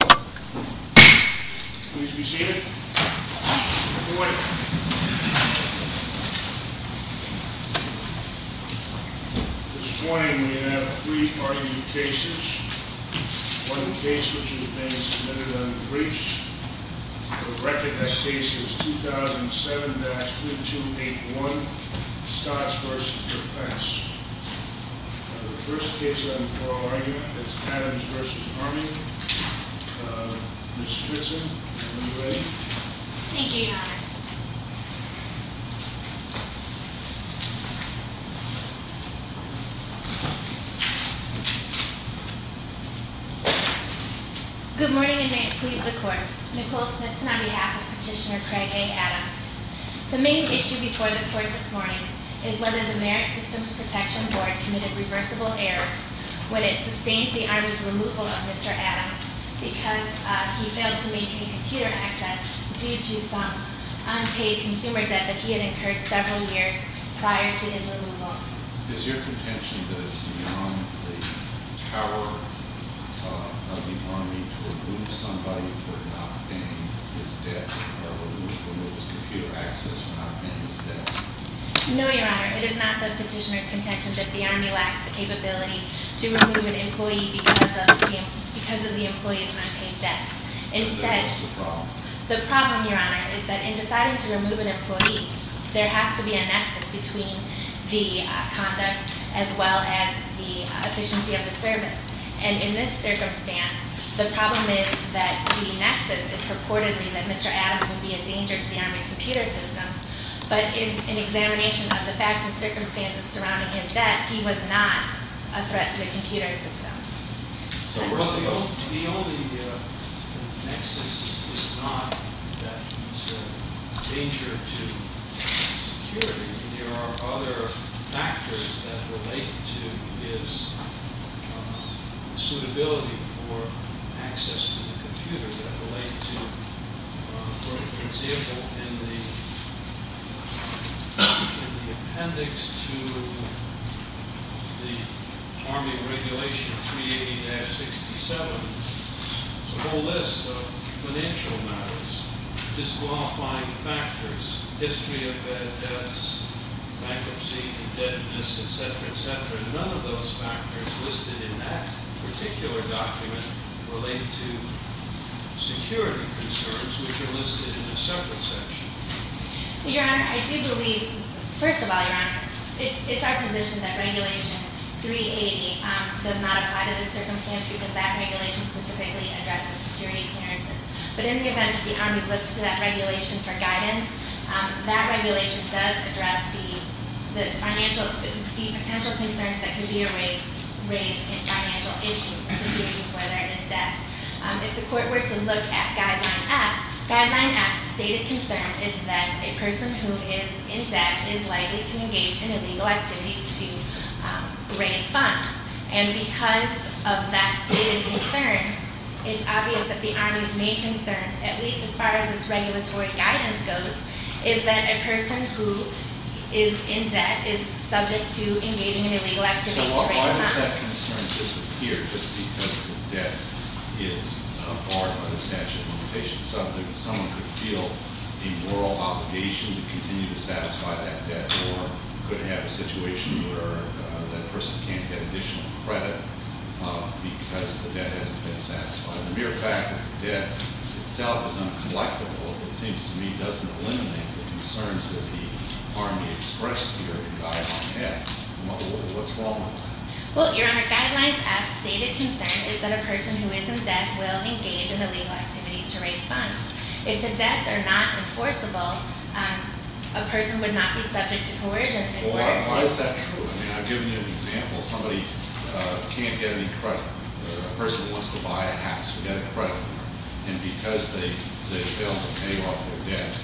Please be seated. Good morning. This morning we have three argued cases. One case which has been submitted on the briefs. The record of that case is 2007-3281. Scotts v. Defense. The first case on the oral argument is Adams v. Army. Ms. Stritzen, are you ready? Thank you, Your Honor. Good morning and may it please the Court. Nicole Smithson on behalf of Petitioner Craig A. Adams. The main issue before the Court this morning is whether the Merit Systems Protection Board committed reversible error when it sustained the Army's removal of Mr. Adams because he failed to maintain computer access due to some unpaid consumer debt that he had incurred several years prior to his removal. Is your contention that it's beyond the power of the Army to remove somebody for not paying his debt or remove his computer access for not paying his debt? No, Your Honor. It is not the Petitioner's contention that the Army lacks the capability to remove an employee because of the employee's unpaid debts. So what's the problem? The problem, Your Honor, is that in deciding to remove an employee, there has to be a nexus between the conduct as well as the efficiency of the service. And in this circumstance, the problem is that the nexus is purportedly that Mr. Adams would be a danger to the Army's computer systems. But in examination of the facts and circumstances surrounding his debt, he was not a threat to the computer system. Well, the only nexus is not that he's a danger to security. In Section 380-67, there's a whole list of financial matters, disqualifying factors, history of bad debts, bankruptcy, indebtedness, etc., etc. None of those factors listed in that particular document relate to security concerns, which are listed in a separate section. Well, Your Honor, I do believe, first of all, Your Honor, it's our position that Regulation 380 does not apply to this circumstance because that regulation specifically addresses security occurrences. But in the event that the Army looks to that regulation for guidance, that regulation does address the financial, the potential concerns that can be raised in financial issues in situations where there is debt. If the court were to look at Guideline F, Guideline F's stated concern is that a person who is in debt is likely to engage in illegal activities to raise funds. And because of that stated concern, it's obvious that the Army's main concern, at least as far as its regulatory guidance goes, is that a person who is in debt is subject to engaging in illegal activities to raise funds. Why does that concern disappear just because the debt is barred by the statute of limitations? Someone could feel a moral obligation to continue to satisfy that debt or could have a situation where that person can't get additional credit because the debt hasn't been satisfied. The mere fact that the debt itself is uncollectible, it seems to me, the concerns that the Army expressed here in Guideline F, what's wrong with that? Well, Your Honor, Guidelines F's stated concern is that a person who is in debt will engage in illegal activities to raise funds. If the debts are not enforceable, a person would not be subject to coercion. Why is that true? I mean, I've given you an example. Somebody can't get any credit. A person wants to buy a house to get a credit card. And because they fail to pay off their debts,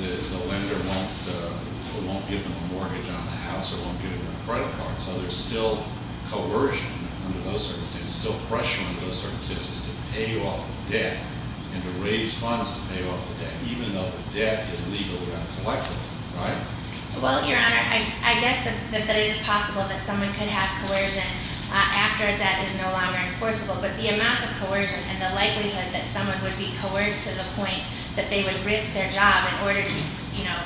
the lender won't give them a mortgage on the house or won't give them a credit card. So there's still coercion under those circumstances, still pressure under those circumstances to pay off the debt and to raise funds to pay off the debt, even though the debt is legally uncollectible, right? Well, Your Honor, I guess that it is possible that someone could have coercion after a debt is no longer enforceable. But the amount of coercion and the likelihood that someone would be coerced to the point that they would risk their job in order to, you know,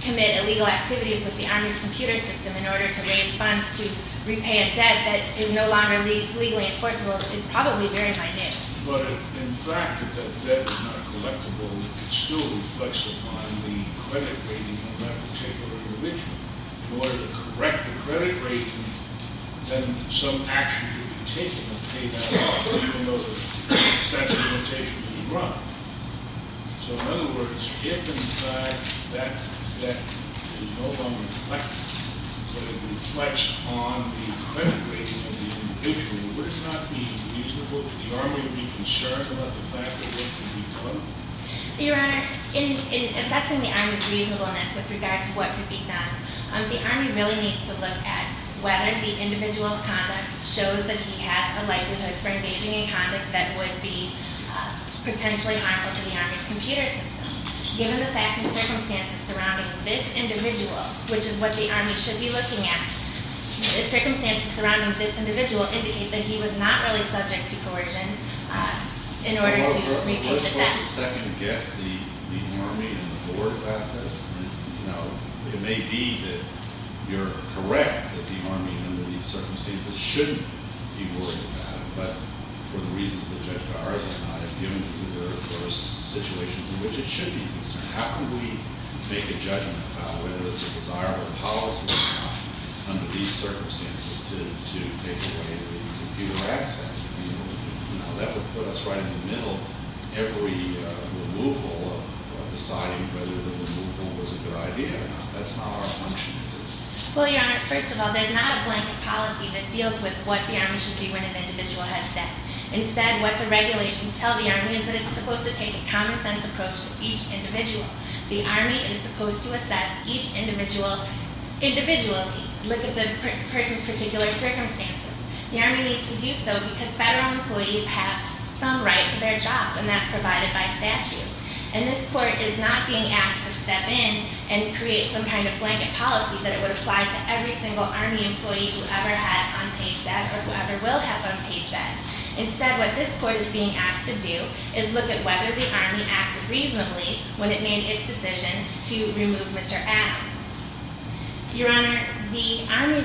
commit illegal activities with the Army's computer system in order to raise funds to repay a debt that is no longer legally enforceable is probably very minute. But in fact, if that debt is not collectible, it still reflects upon the credit rating of that particular individual. In order to correct the credit rating, then some action would be taken to pay that off, even though the statute of limitations is wrong. So in other words, if in fact that debt is no longer collectible, but it reflects on the credit rating of the individual, would it not be reasonable for the Army to be concerned about the fact that what could be done? Your Honor, in assessing the Army's reasonableness with regard to what could be done, the Army really needs to look at whether the individual's conduct shows that he had a likelihood for engaging in conduct that would be potentially harmful to the Army's computer system. Given the facts and circumstances surrounding this individual, which is what the Army should be looking at, the circumstances surrounding this individual indicate that he was not really subject to coercion in order to repay the debt. Let me second guess the Army and the Board about this. You know, it may be that you're correct that the Army under these circumstances shouldn't be worried about it, but for the reasons that Judge Garza and I have given you, there are, of course, situations in which it should be concerned. How can we make a judgment about whether it's a desirable policy or not under these circumstances to take away the computer access? You know, that would put us right in the middle of every removal of deciding whether the removal was a good idea. That's not our function as a system. Well, Your Honor, first of all, there's not a blanket policy that deals with what the Army should do when an individual has debt. Instead, what the regulations tell the Army is that it's supposed to take a common-sense approach to each individual. The Army is supposed to assess each individual individually, look at the person's particular circumstances. The Army needs to do so because federal employees have some right to their job, and that's provided by statute. And this Court is not being asked to step in and create some kind of blanket policy that it would apply to every single Army employee who ever had unpaid debt or who ever will have unpaid debt. Instead, what this Court is being asked to do is look at whether the Army acted reasonably when it made its decision to remove Mr. Adams. Your Honor, the Army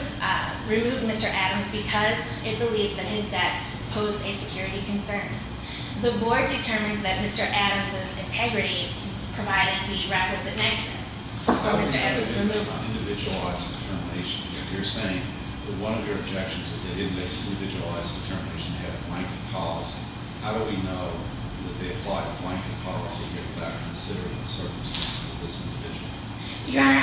removed Mr. Adams because it believed that his debt posed a security concern. The Board determined that Mr. Adams' integrity provided the requisite niceness for Mr. Adams to remove him. Your Honor,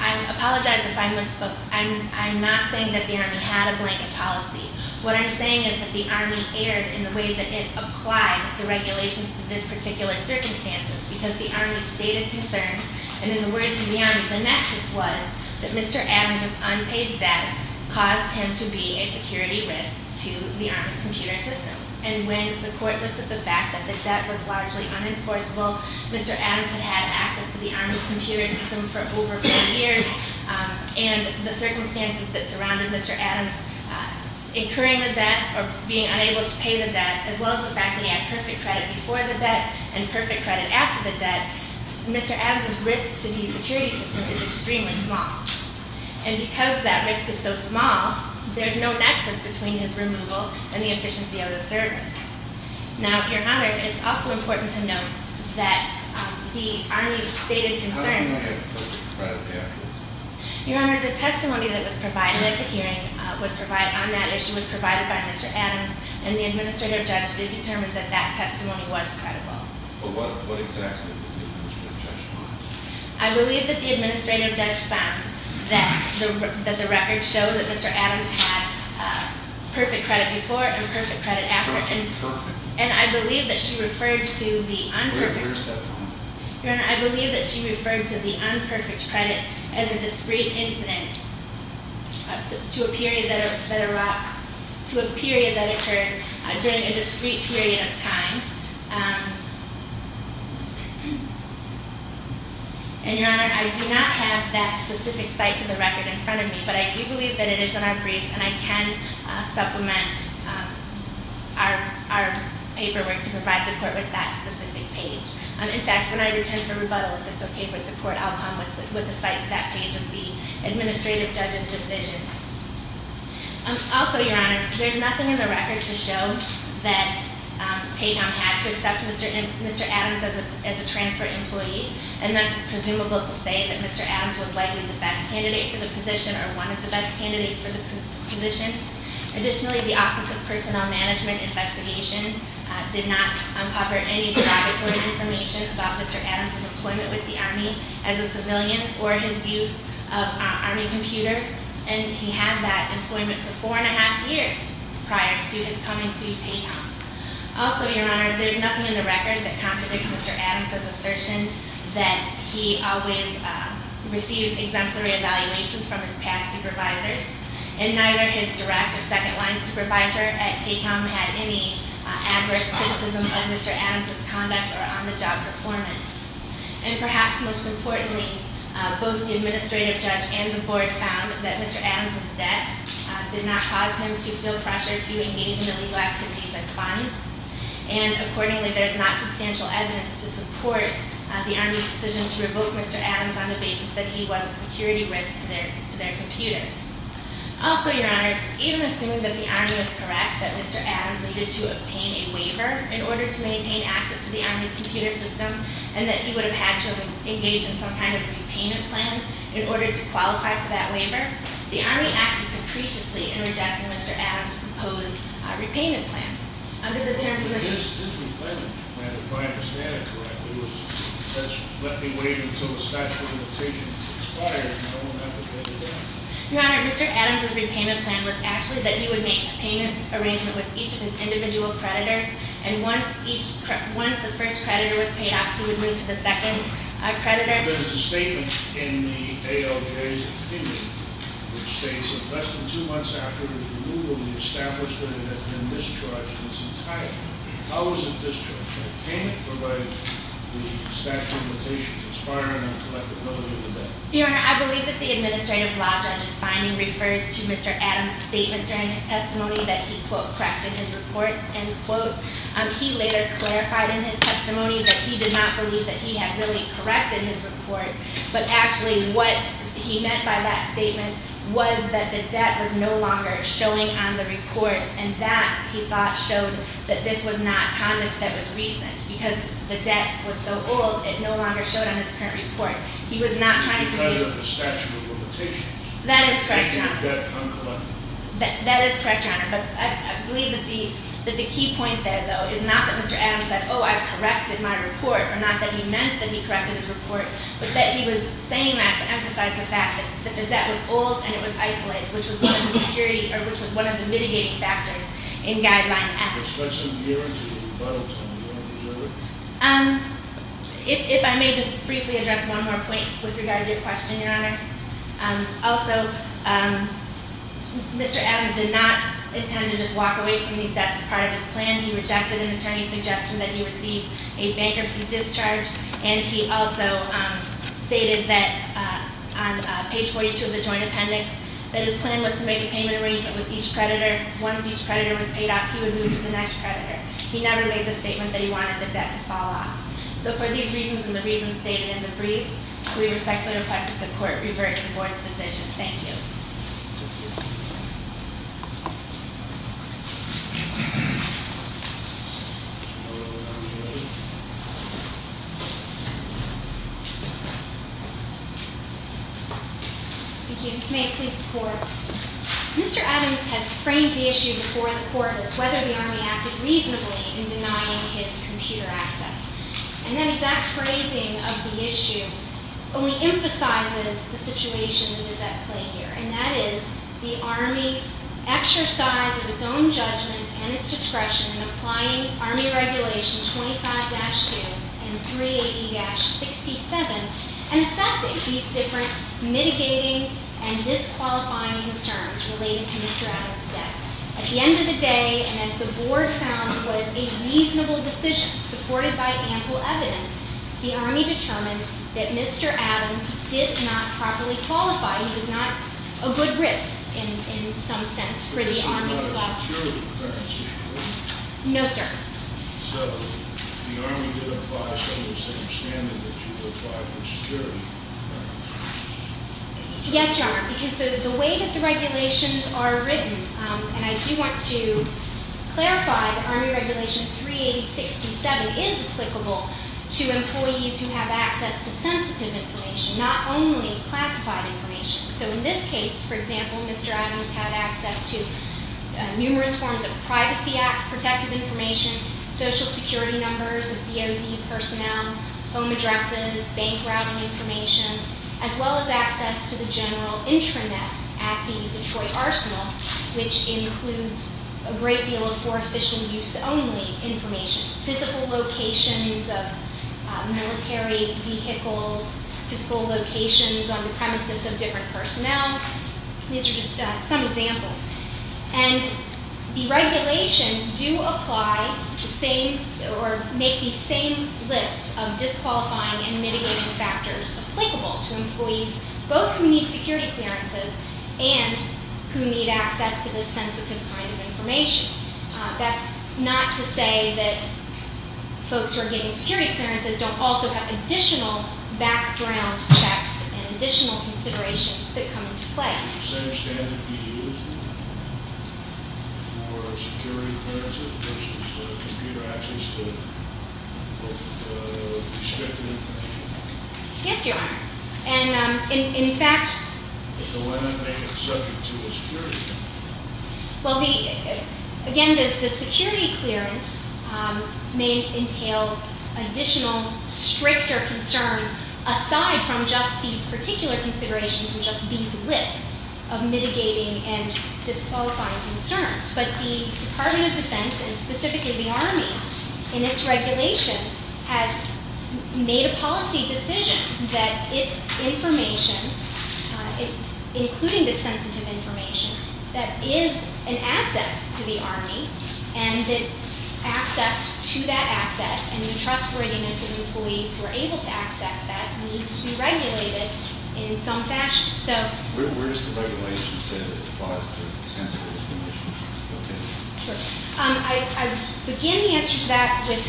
I apologize if I misspoke. I'm not saying that the Army had a blanket policy. What I'm saying is that the Army erred in the way that it applied the regulations to this particular circumstance because the Army stated concern, and in the words of the Army, the nexus was that Mr. Adams' unpaid debt caused him to be a security risk to the Army's computer systems. And when the Court looks at the fact that the debt was largely unenforceable, Mr. Adams had had access to the Army's computer system for over four years, and the circumstances that surrounded Mr. Adams incurring the debt or being unable to pay the debt, as well as the fact that he had perfect credit before the debt and perfect credit after the debt, Mr. Adams' risk to the security system is extremely small. And because that risk is so small, there's no nexus between his removal and the efficiency of the service. Now, Your Honor, it's also important to note that the Army stated concern- I don't know yet what the credit here is. Your Honor, the testimony that was provided at the hearing on that issue was provided by Mr. Adams and the Administrative Judge did determine that that testimony was credible. But what exactly did the Administrative Judge find? I believe that the Administrative Judge found that the records show that Mr. Adams had perfect credit before and perfect credit after. And I believe that she referred to the unperfect- Where is that from? Your Honor, I believe that she referred to the unperfect credit as a discrete incident to a period that occurred during a discrete period of time. And Your Honor, I do not have that specific site to the record in front of me, but I do believe that it is in our briefs and I can supplement our paperwork to provide the court with that specific page. In fact, when I return for rebuttal, if it's okay with the court, I'll come with a site to that page of the Administrative Judge's decision. Also, Your Honor, there's nothing in the record to show that Taycom had to accept Mr. Adams as a transfer employee. And thus, it's presumable to say that Mr. Adams was likely the best candidate for the position or one of the best candidates for the position. Additionally, the Office of Personnel Management Investigation did not uncover any derogatory information about Mr. Adams' employment with the Army as a civilian or his use of Army computers. And he had that employment for four and a half years prior to his coming to Taycom. Also, Your Honor, there's nothing in the record that contradicts Mr. Adams' assertion that he always received exemplary evaluations from his past supervisors. And neither his direct or second-line supervisor at Taycom had any adverse criticism of Mr. Adams' conduct or on-the-job performance. And perhaps most importantly, both the Administrative Judge and the Board found that Mr. Adams' death did not cause him to feel pressure to engage in illegal activities and funds. And accordingly, there's not substantial evidence to support the Army's decision to revoke Mr. Adams on the basis that he was a security risk to their computers. Also, Your Honors, even assuming that the Army was correct that Mr. Adams needed to obtain a waiver in order to maintain access to the Army's computer system and that he would have had to have engaged in some kind of repayment plan in order to qualify for that waiver, the Army acted capriciously in rejecting Mr. Adams' proposed repayment plan. Under the terms of the- This repayment plan, if I understand it correctly, was essentially, let me wait until the statute of limitations expires, and I won't have to pay you back. Your Honor, Mr. Adams' repayment plan was actually that he would make a payment arrangement with each of his individual creditors. And once the first creditor was paid off, he would move to the second creditor. There was a statement in the ALJ's opinion which states that less than two months after the removal, the establishment had been discharged in its entirety. How was it discharged? And can it provide the statute of limitations expiring on a collective note or the bank? Your Honor, I believe that the administrative law judge's finding refers to Mr. Adams' statement during his testimony that he, quote, clarified in his testimony that he did not believe that he had really corrected his report. But actually, what he meant by that statement was that the debt was no longer showing on the report, and that, he thought, showed that this was not conduct that was recent. Because the debt was so old, it no longer showed on his current report. He was not trying to be- Because of the statute of limitations. That is correct, Your Honor. Taking the debt uncollected. That is correct, Your Honor. But I believe that the key point there, though, is not that Mr. Adams said, oh, I've corrected my report, or not that he meant that he corrected his report, but that he was saying that to emphasize the fact that the debt was old and it was isolated, which was one of the security, or which was one of the mitigating factors in Guideline F. If I may just briefly address one more point with regard to your question, Your Honor. Also, Mr. Adams did not intend to just walk away from these debts as part of his plan. He rejected an attorney's suggestion that he receive a bankruptcy discharge, and he also stated that, on page 42 of the joint appendix, that his plan was to make a payment arrangement with each creditor. Once each creditor was paid off, he would move to the next creditor. He never made the statement that he wanted the debt to fall off. So for these reasons and the reasons stated in the briefs, we respectfully request that the Court reverse the Board's decision. Thank you. Thank you. May it please the Court. Mr. Adams has framed the issue before the Court as whether the Army acted reasonably in denying his computer access. And that exact phrasing of the issue only emphasizes the situation that is at play here, and that is the Army's exercise of its own judgment and its discretion in applying Army Regulation 25-2 and 380-67 and assessing these different mitigating and disqualifying concerns related to Mr. Adams' debt. At the end of the day, and as the Board found was a reasonable decision supported by ample evidence, the Army determined that Mr. Adams did not properly qualify. He was not a good risk, in some sense, for the Army to allow- This is not a security clearance issue, is it? No, sir. So the Army didn't apply it under the same standard that you would apply for security clearance? Yes, Your Honor, because the way that the regulations are written, and I do want to clarify that Army Regulation 380-67 is applicable to employees who have access to sensitive information, not only classified information. So in this case, for example, Mr. Adams had access to numerous forms of Privacy Act protective information, Social Security numbers of DOD personnel, home addresses, bank routing information, as well as access to the general intranet at the Detroit Arsenal, which includes a great deal of for-efficient-use-only information, physical locations of military vehicles, physical locations on the premises of different personnel. These are just some examples. And the regulations do apply the same- or make the same list of disqualifying and mitigation factors applicable to employees, both who need security clearances and who need access to this sensitive kind of information. That's not to say that folks who are getting security clearances don't also have additional background checks and additional considerations that come into play. Yes, Your Honor. Yes, Your Honor. And in fact- Well, again, the security clearance may entail additional stricter concerns aside from just these particular considerations and just these lists of mitigating and disqualifying concerns. But the Department of Defense, and specifically the Army, in its regulation, has made a policy decision that its information, including the sensitive information, that is an asset to the Army and that access to that asset and the trustworthiness of employees who are able to access that needs to be regulated in some fashion. So- Where does the regulation say that it applies to sensitive information? Okay. Sure. I begin the answer to that with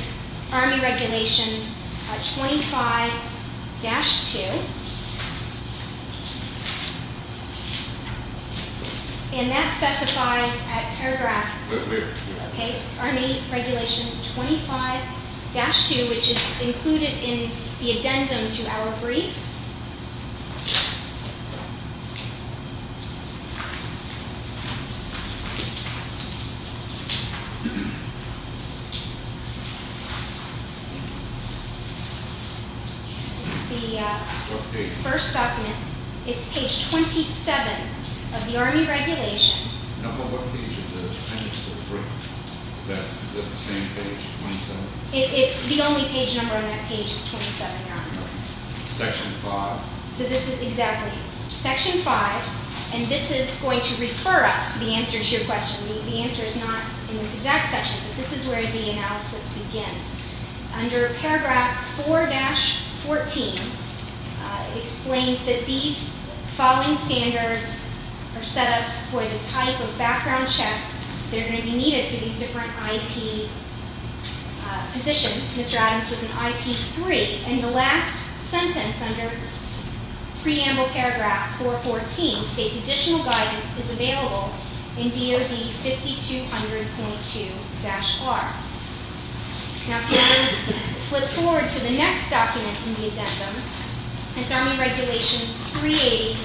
Army Regulation 25-2. And that specifies, at paragraph- Right there. Okay. Army Regulation 25-2, which is included in the addendum to our brief. It's the first document. It's page 27 of the Army Regulation. No, but what page is it? I missed the brief. Is it the same page, 27? The only page number on that page is 27, Your Honor. Section 5. So this is exactly- Section 5. And this is going to refer us to the answers to your question. The answer is not in this exact section, but this is where the analysis begins. Under paragraph 4-14, it explains that these following standards are set up for the type of background checks that are going to be needed for these different IT positions. Mr. Adams was an IT 3. And the last sentence under preamble paragraph 4-14 states additional guidance is available in DOD 5200.2-R. Now if we were to flip forward to the next document in the addendum, it's Army Regulation 380-67.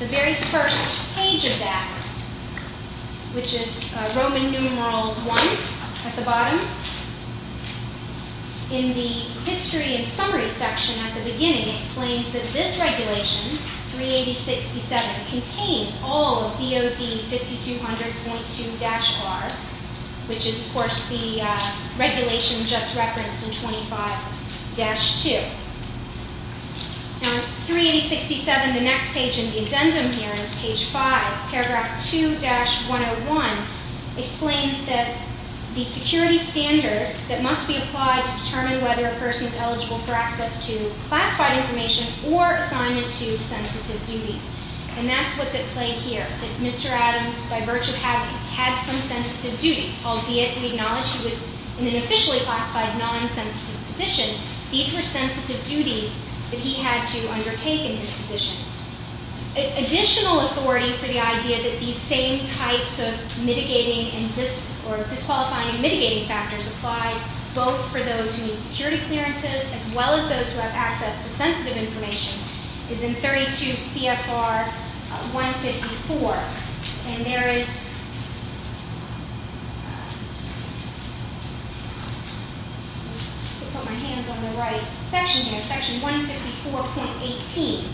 The very first page of that, which is Roman numeral 1 at the bottom, in the history and summary section at the beginning, explains that this regulation, 380-67, contains all of DOD 5200.2-R, which is, of course, the regulation just referenced in 25-2. Now, 380-67, the next page in the addendum here is page 5, paragraph 2-101, explains that the security standard that must be applied to determine whether a person is eligible for access to classified information or assignment to sensitive duties. And that's what's at play here, that Mr. Adams, by virtue of having had some sensitive duties, albeit we acknowledge he was in an officially classified, non-sensitive position, these were sensitive duties that he had to undertake in his position. Additional authority for the idea that these same types of mitigating and disqualifying and mitigating factors applies both for those who need security clearances as well as those who have access to sensitive information is in 32 CFR 154. And there is, I'll put my hands on the right section here, section 154.18,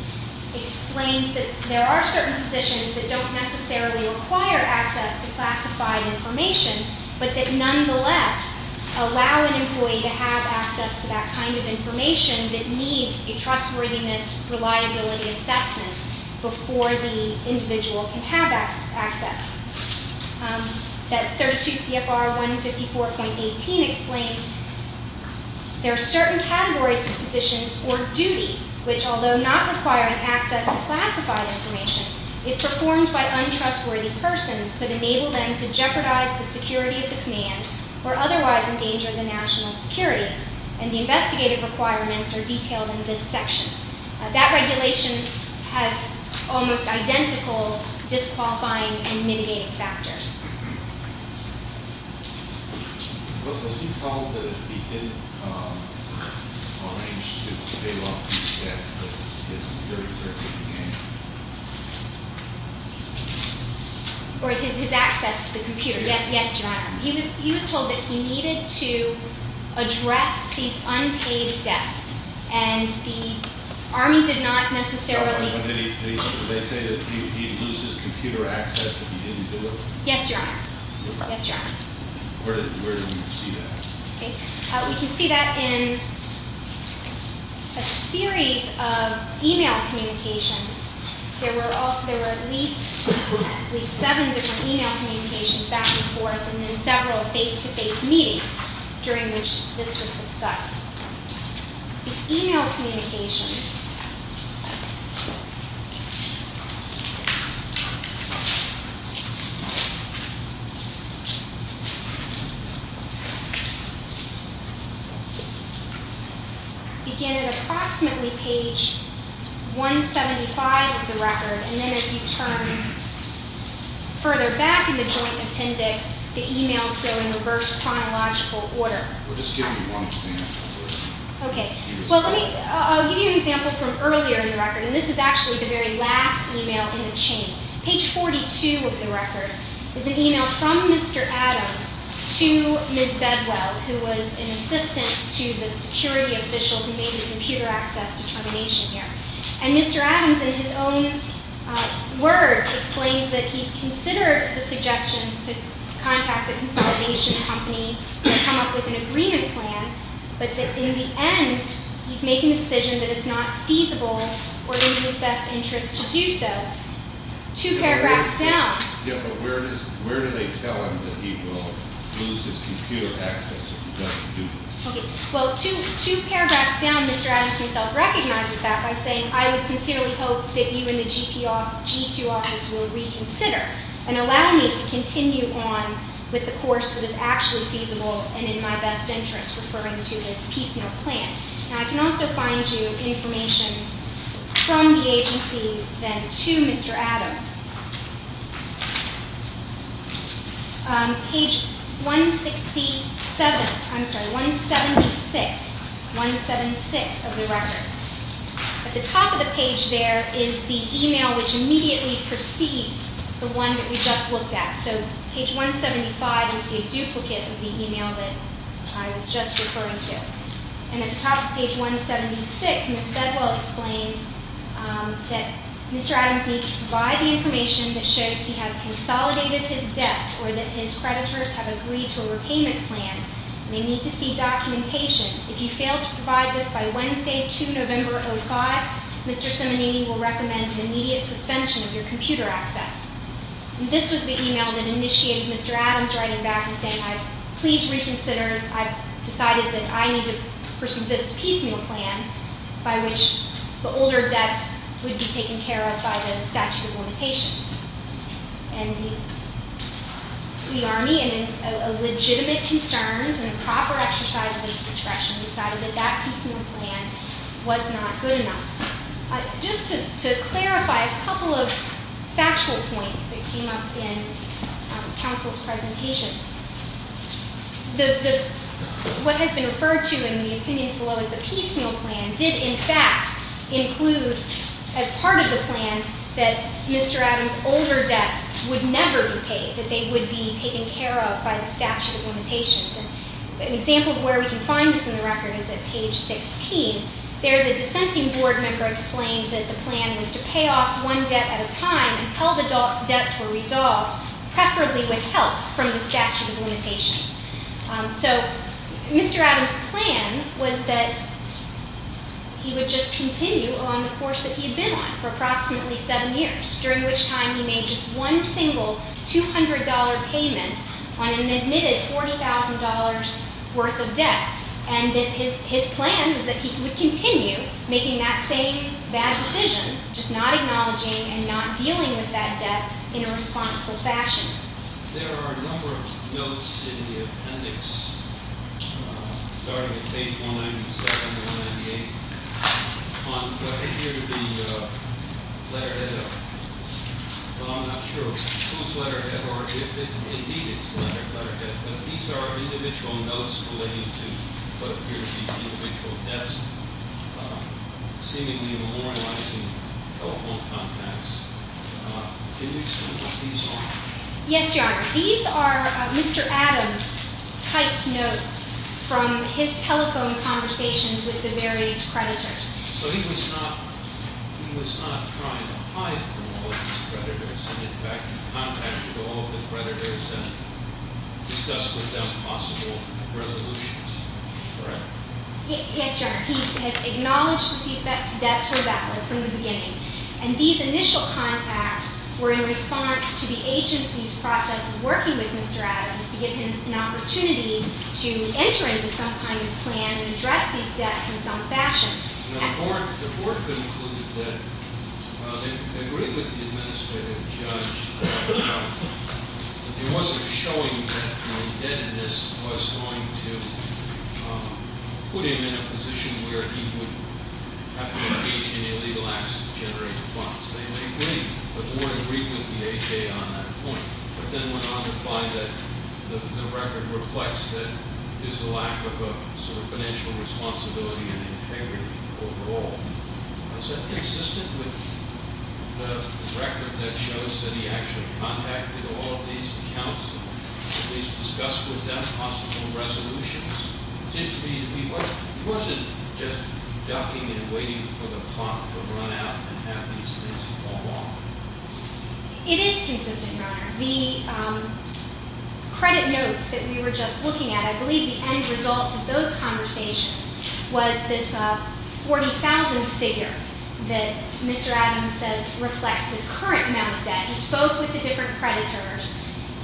explains that there are certain positions that don't necessarily require access to classified information, but that nonetheless allow an employee to have access to that kind of information that needs a trustworthiness, reliability assessment before the individual can have access. That's 32 CFR 154.18 explains there are certain categories of positions or duties which, although not requiring access to classified information, if performed by untrustworthy persons, could enable them to jeopardize the security of the command or otherwise endanger the national security. And the investigative requirements are detailed in this section. That regulation has almost identical disqualifying and mitigating factors. Or his access to the computer. Yes, Your Honor. He was told that he needed to address these unpaid debts. And the Army did not necessarily... Yes, Your Honor. Yes, Your Honor. We can see that in a series of email communications. There were at least seven different email communications back and forth and then several face-to-face meetings during which this was discussed. The email communications... began at approximately page 175 of the record. And then as you turn further back in the joint appendix, the emails go in reverse chronological order. Well, just give me one second. Okay. Well, let me... I'll give you an example from earlier in the record. And this is actually the very last email in the chain. Page 42 of the record is an email from Mr. Adams to Ms. Bedwell, who was an assistant to the security official who made the computer access determination here. And Mr. Adams, in his own words, explains that he's considered the suggestions to contact a consolidation company and come up with an agreement plan, but that in the end, he's making the decision that it's not feasible or in his best interest to do so. Two paragraphs down... Yeah, but where do they tell him that he will lose his computer access if he doesn't do this? Okay. Well, two paragraphs down, Mr. Adams himself recognizes that by saying, I would sincerely hope that you and the G2 office will reconsider and allow me to continue on with the course that is actually feasible and in my best interest, referring to this piecemeal plan. Now, I can also find you information from the agency then to Mr. Adams. Page 167... I'm sorry, 176. 176 of the record. At the top of the page there is the email which immediately precedes the one that we just looked at. So, page 175, you see a duplicate of the email that I was just referring to. And at the top of page 176, Ms. Bedwell explains that Mr. Adams needs to provide the information that shows he has consolidated his debts or that his creditors have agreed to a repayment plan. They need to see documentation. If you fail to provide this by Wednesday, 2 November 2005, Mr. Simonini will recommend an immediate suspension of your computer access. This was the email that initiated Mr. Adams writing back and saying, Please reconsider. I've decided that I need to pursue this piecemeal plan by which the older debts would be taken care of by the statute of limitations. And the Army, in legitimate concerns and proper exercise of its discretion, decided that that piecemeal plan was not good enough. Just to clarify a couple of factual points that came up in counsel's presentation. What has been referred to in the opinions below as the piecemeal plan did in fact include as part of the plan that Mr. Adams' older debts would never be paid, that they would be taken care of by the statute of limitations. An example of where we can find this in the record is at page 16. There, the dissenting board member explained that the plan was to pay off one debt at a time until the debts were resolved, preferably with help from the statute of limitations. So Mr. Adams' plan was that he would just continue on the course that he had been on for approximately seven years, during which time he made just one single $200 payment on an admitted $40,000 worth of debt. And his plan was that he would continue making that same bad decision, just not acknowledging and not dealing with that debt in a responsible fashion. There are a number of notes in the appendix, starting at page 197 or 198, on what appeared to be a letterhead of, but I'm not sure whose letterhead or if indeed it's a letterhead. But these are individual notes relating to what appear to be individual debts, seemingly memorializing telephone contacts. Can you explain what these are? Yes, Your Honor. These are Mr. Adams' typed notes from his telephone conversations with the various creditors. So he was not trying to hide from all of these creditors, and in fact he contacted all of the creditors and discussed with them possible resolutions, correct? Yes, Your Honor. He has acknowledged that these debts were valid from the beginning. And these initial contacts were in response to the agency's process of working with Mr. Adams to give him an opportunity to enter into some kind of plan and address these debts in some fashion. The court concluded that it agreed with the administrative judge that it wasn't showing that the indebtedness was going to put him in a position where he would have to engage in illegal acts of generating funds. They may agree, but the court agreed with the AHA on that point. But then went on to find that the record reflects that there's a lack of a sort of financial responsibility and integrity overall. Is that consistent with the record that shows that he actually contacted all of these counselors and at least discussed with them possible resolutions? Was it just ducking and waiting for the clock to run out and have these things fall off? It is consistent, Your Honor. The credit notes that we were just looking at, I believe the end result of those conversations was this 40,000 figure that Mr. Adams says reflects his current amount of debt. He spoke with the different creditors,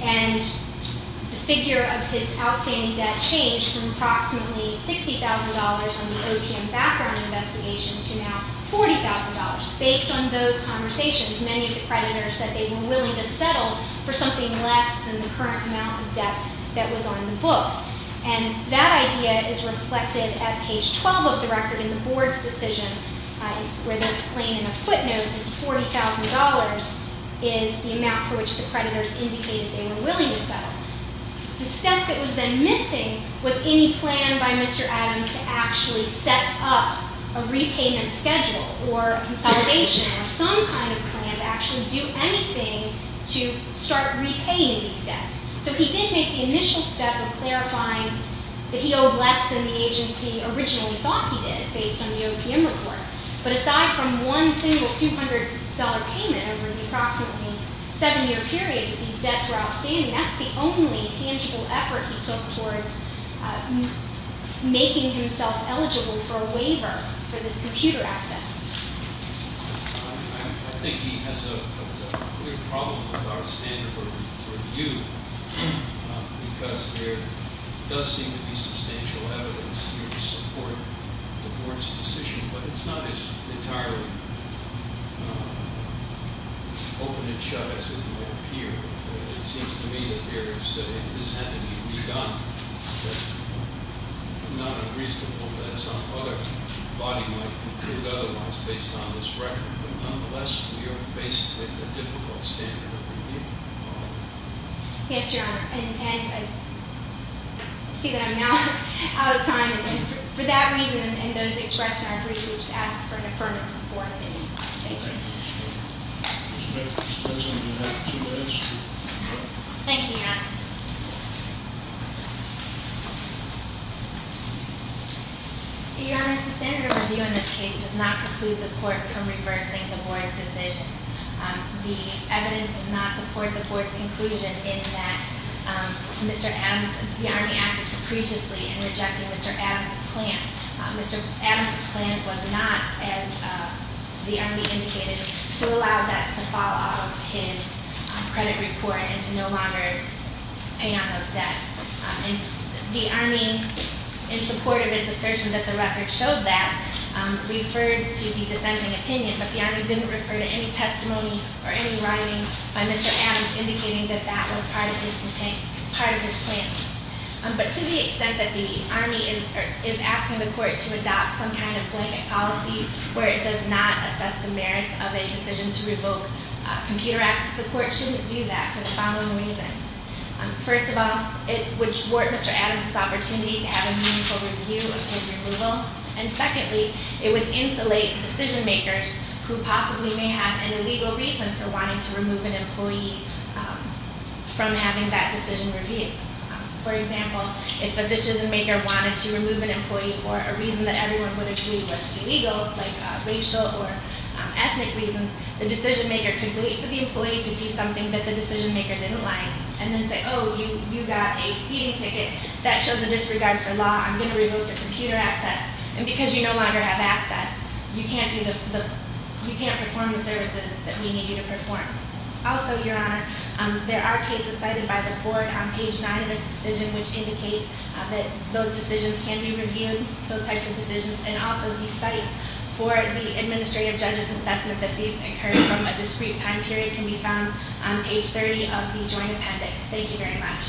and the figure of his outstanding debt changed from approximately $60,000 on the OPM background investigation to now $40,000. Based on those conversations, many of the creditors said they were willing to settle for something less than the current amount of debt that was on the books. And that idea is reflected at page 12 of the record in the board's decision, where they explain in a footnote that the $40,000 is the amount for which the creditors indicated they were willing to settle. The step that was then missing was any plan by Mr. Adams to actually set up a repayment schedule or consolidation or some kind of plan to actually do anything to start repaying these debts. So he did make the initial step of clarifying that he owed less than the agency originally thought he did, based on the OPM report. But aside from one single $200 payment over the approximately seven-year period that these debts were outstanding, that's the only tangible effort he took towards making himself eligible for a waiver for this computer access. I think he has a clear problem with our standard for view, because there does seem to be substantial evidence here to support the board's decision. But it's not as entirely open and shut as it may appear. It seems to me that there is a, this had to be redone. It's not unreasonable that some other body might conclude otherwise based on this record. But nonetheless, we are faced with a difficult standard of review. Yes, Your Honor. And I see that I'm now out of time. And for that reason and those expressed in our brief, we just ask for an affirmative support. Thank you. Thank you, Mr. Chairman. Thank you, Your Honor. Your Honor, the standard of review in this case does not preclude the court from reversing the board's decision. The evidence does not support the board's conclusion in that Mr. Adams, the Army acted capriciously in rejecting Mr. Adams' plan. Mr. Adams' plan was not, as the Army indicated, to allow debts to fall out of his credit report and to no longer pay on those debts. And the Army, in support of its assertion that the record showed that, referred to the dissenting opinion, but the Army didn't refer to any testimony or any writing by Mr. Adams indicating that that was part of his plan. But to the extent that the Army is asking the court to adopt some kind of blanket policy where it does not assess the merits of a decision to revoke computer access, the court shouldn't do that for the following reasons. First of all, it would thwart Mr. Adams' opportunity to have a meaningful review of his removal. And secondly, it would insulate decision-makers who possibly may have an illegal reason for wanting to remove an employee from having that decision reviewed. For example, if a decision-maker wanted to remove an employee for a reason that everyone would agree was illegal, like racial or ethnic reasons, the decision-maker could wait for the employee to see something that the decision-maker didn't like and then say, oh, you got a speeding ticket. That shows a disregard for law. I'm going to revoke your computer access. And because you no longer have access, you can't perform the services that we need you to perform. Also, Your Honor, there are cases cited by the court on page 9 of its decision which indicate that those decisions can be reviewed, those types of decisions, and also the site for the administrative judge's assessment that these occurred from a discrete time period can be found on page 30 of the joint appendix. Thank you very much.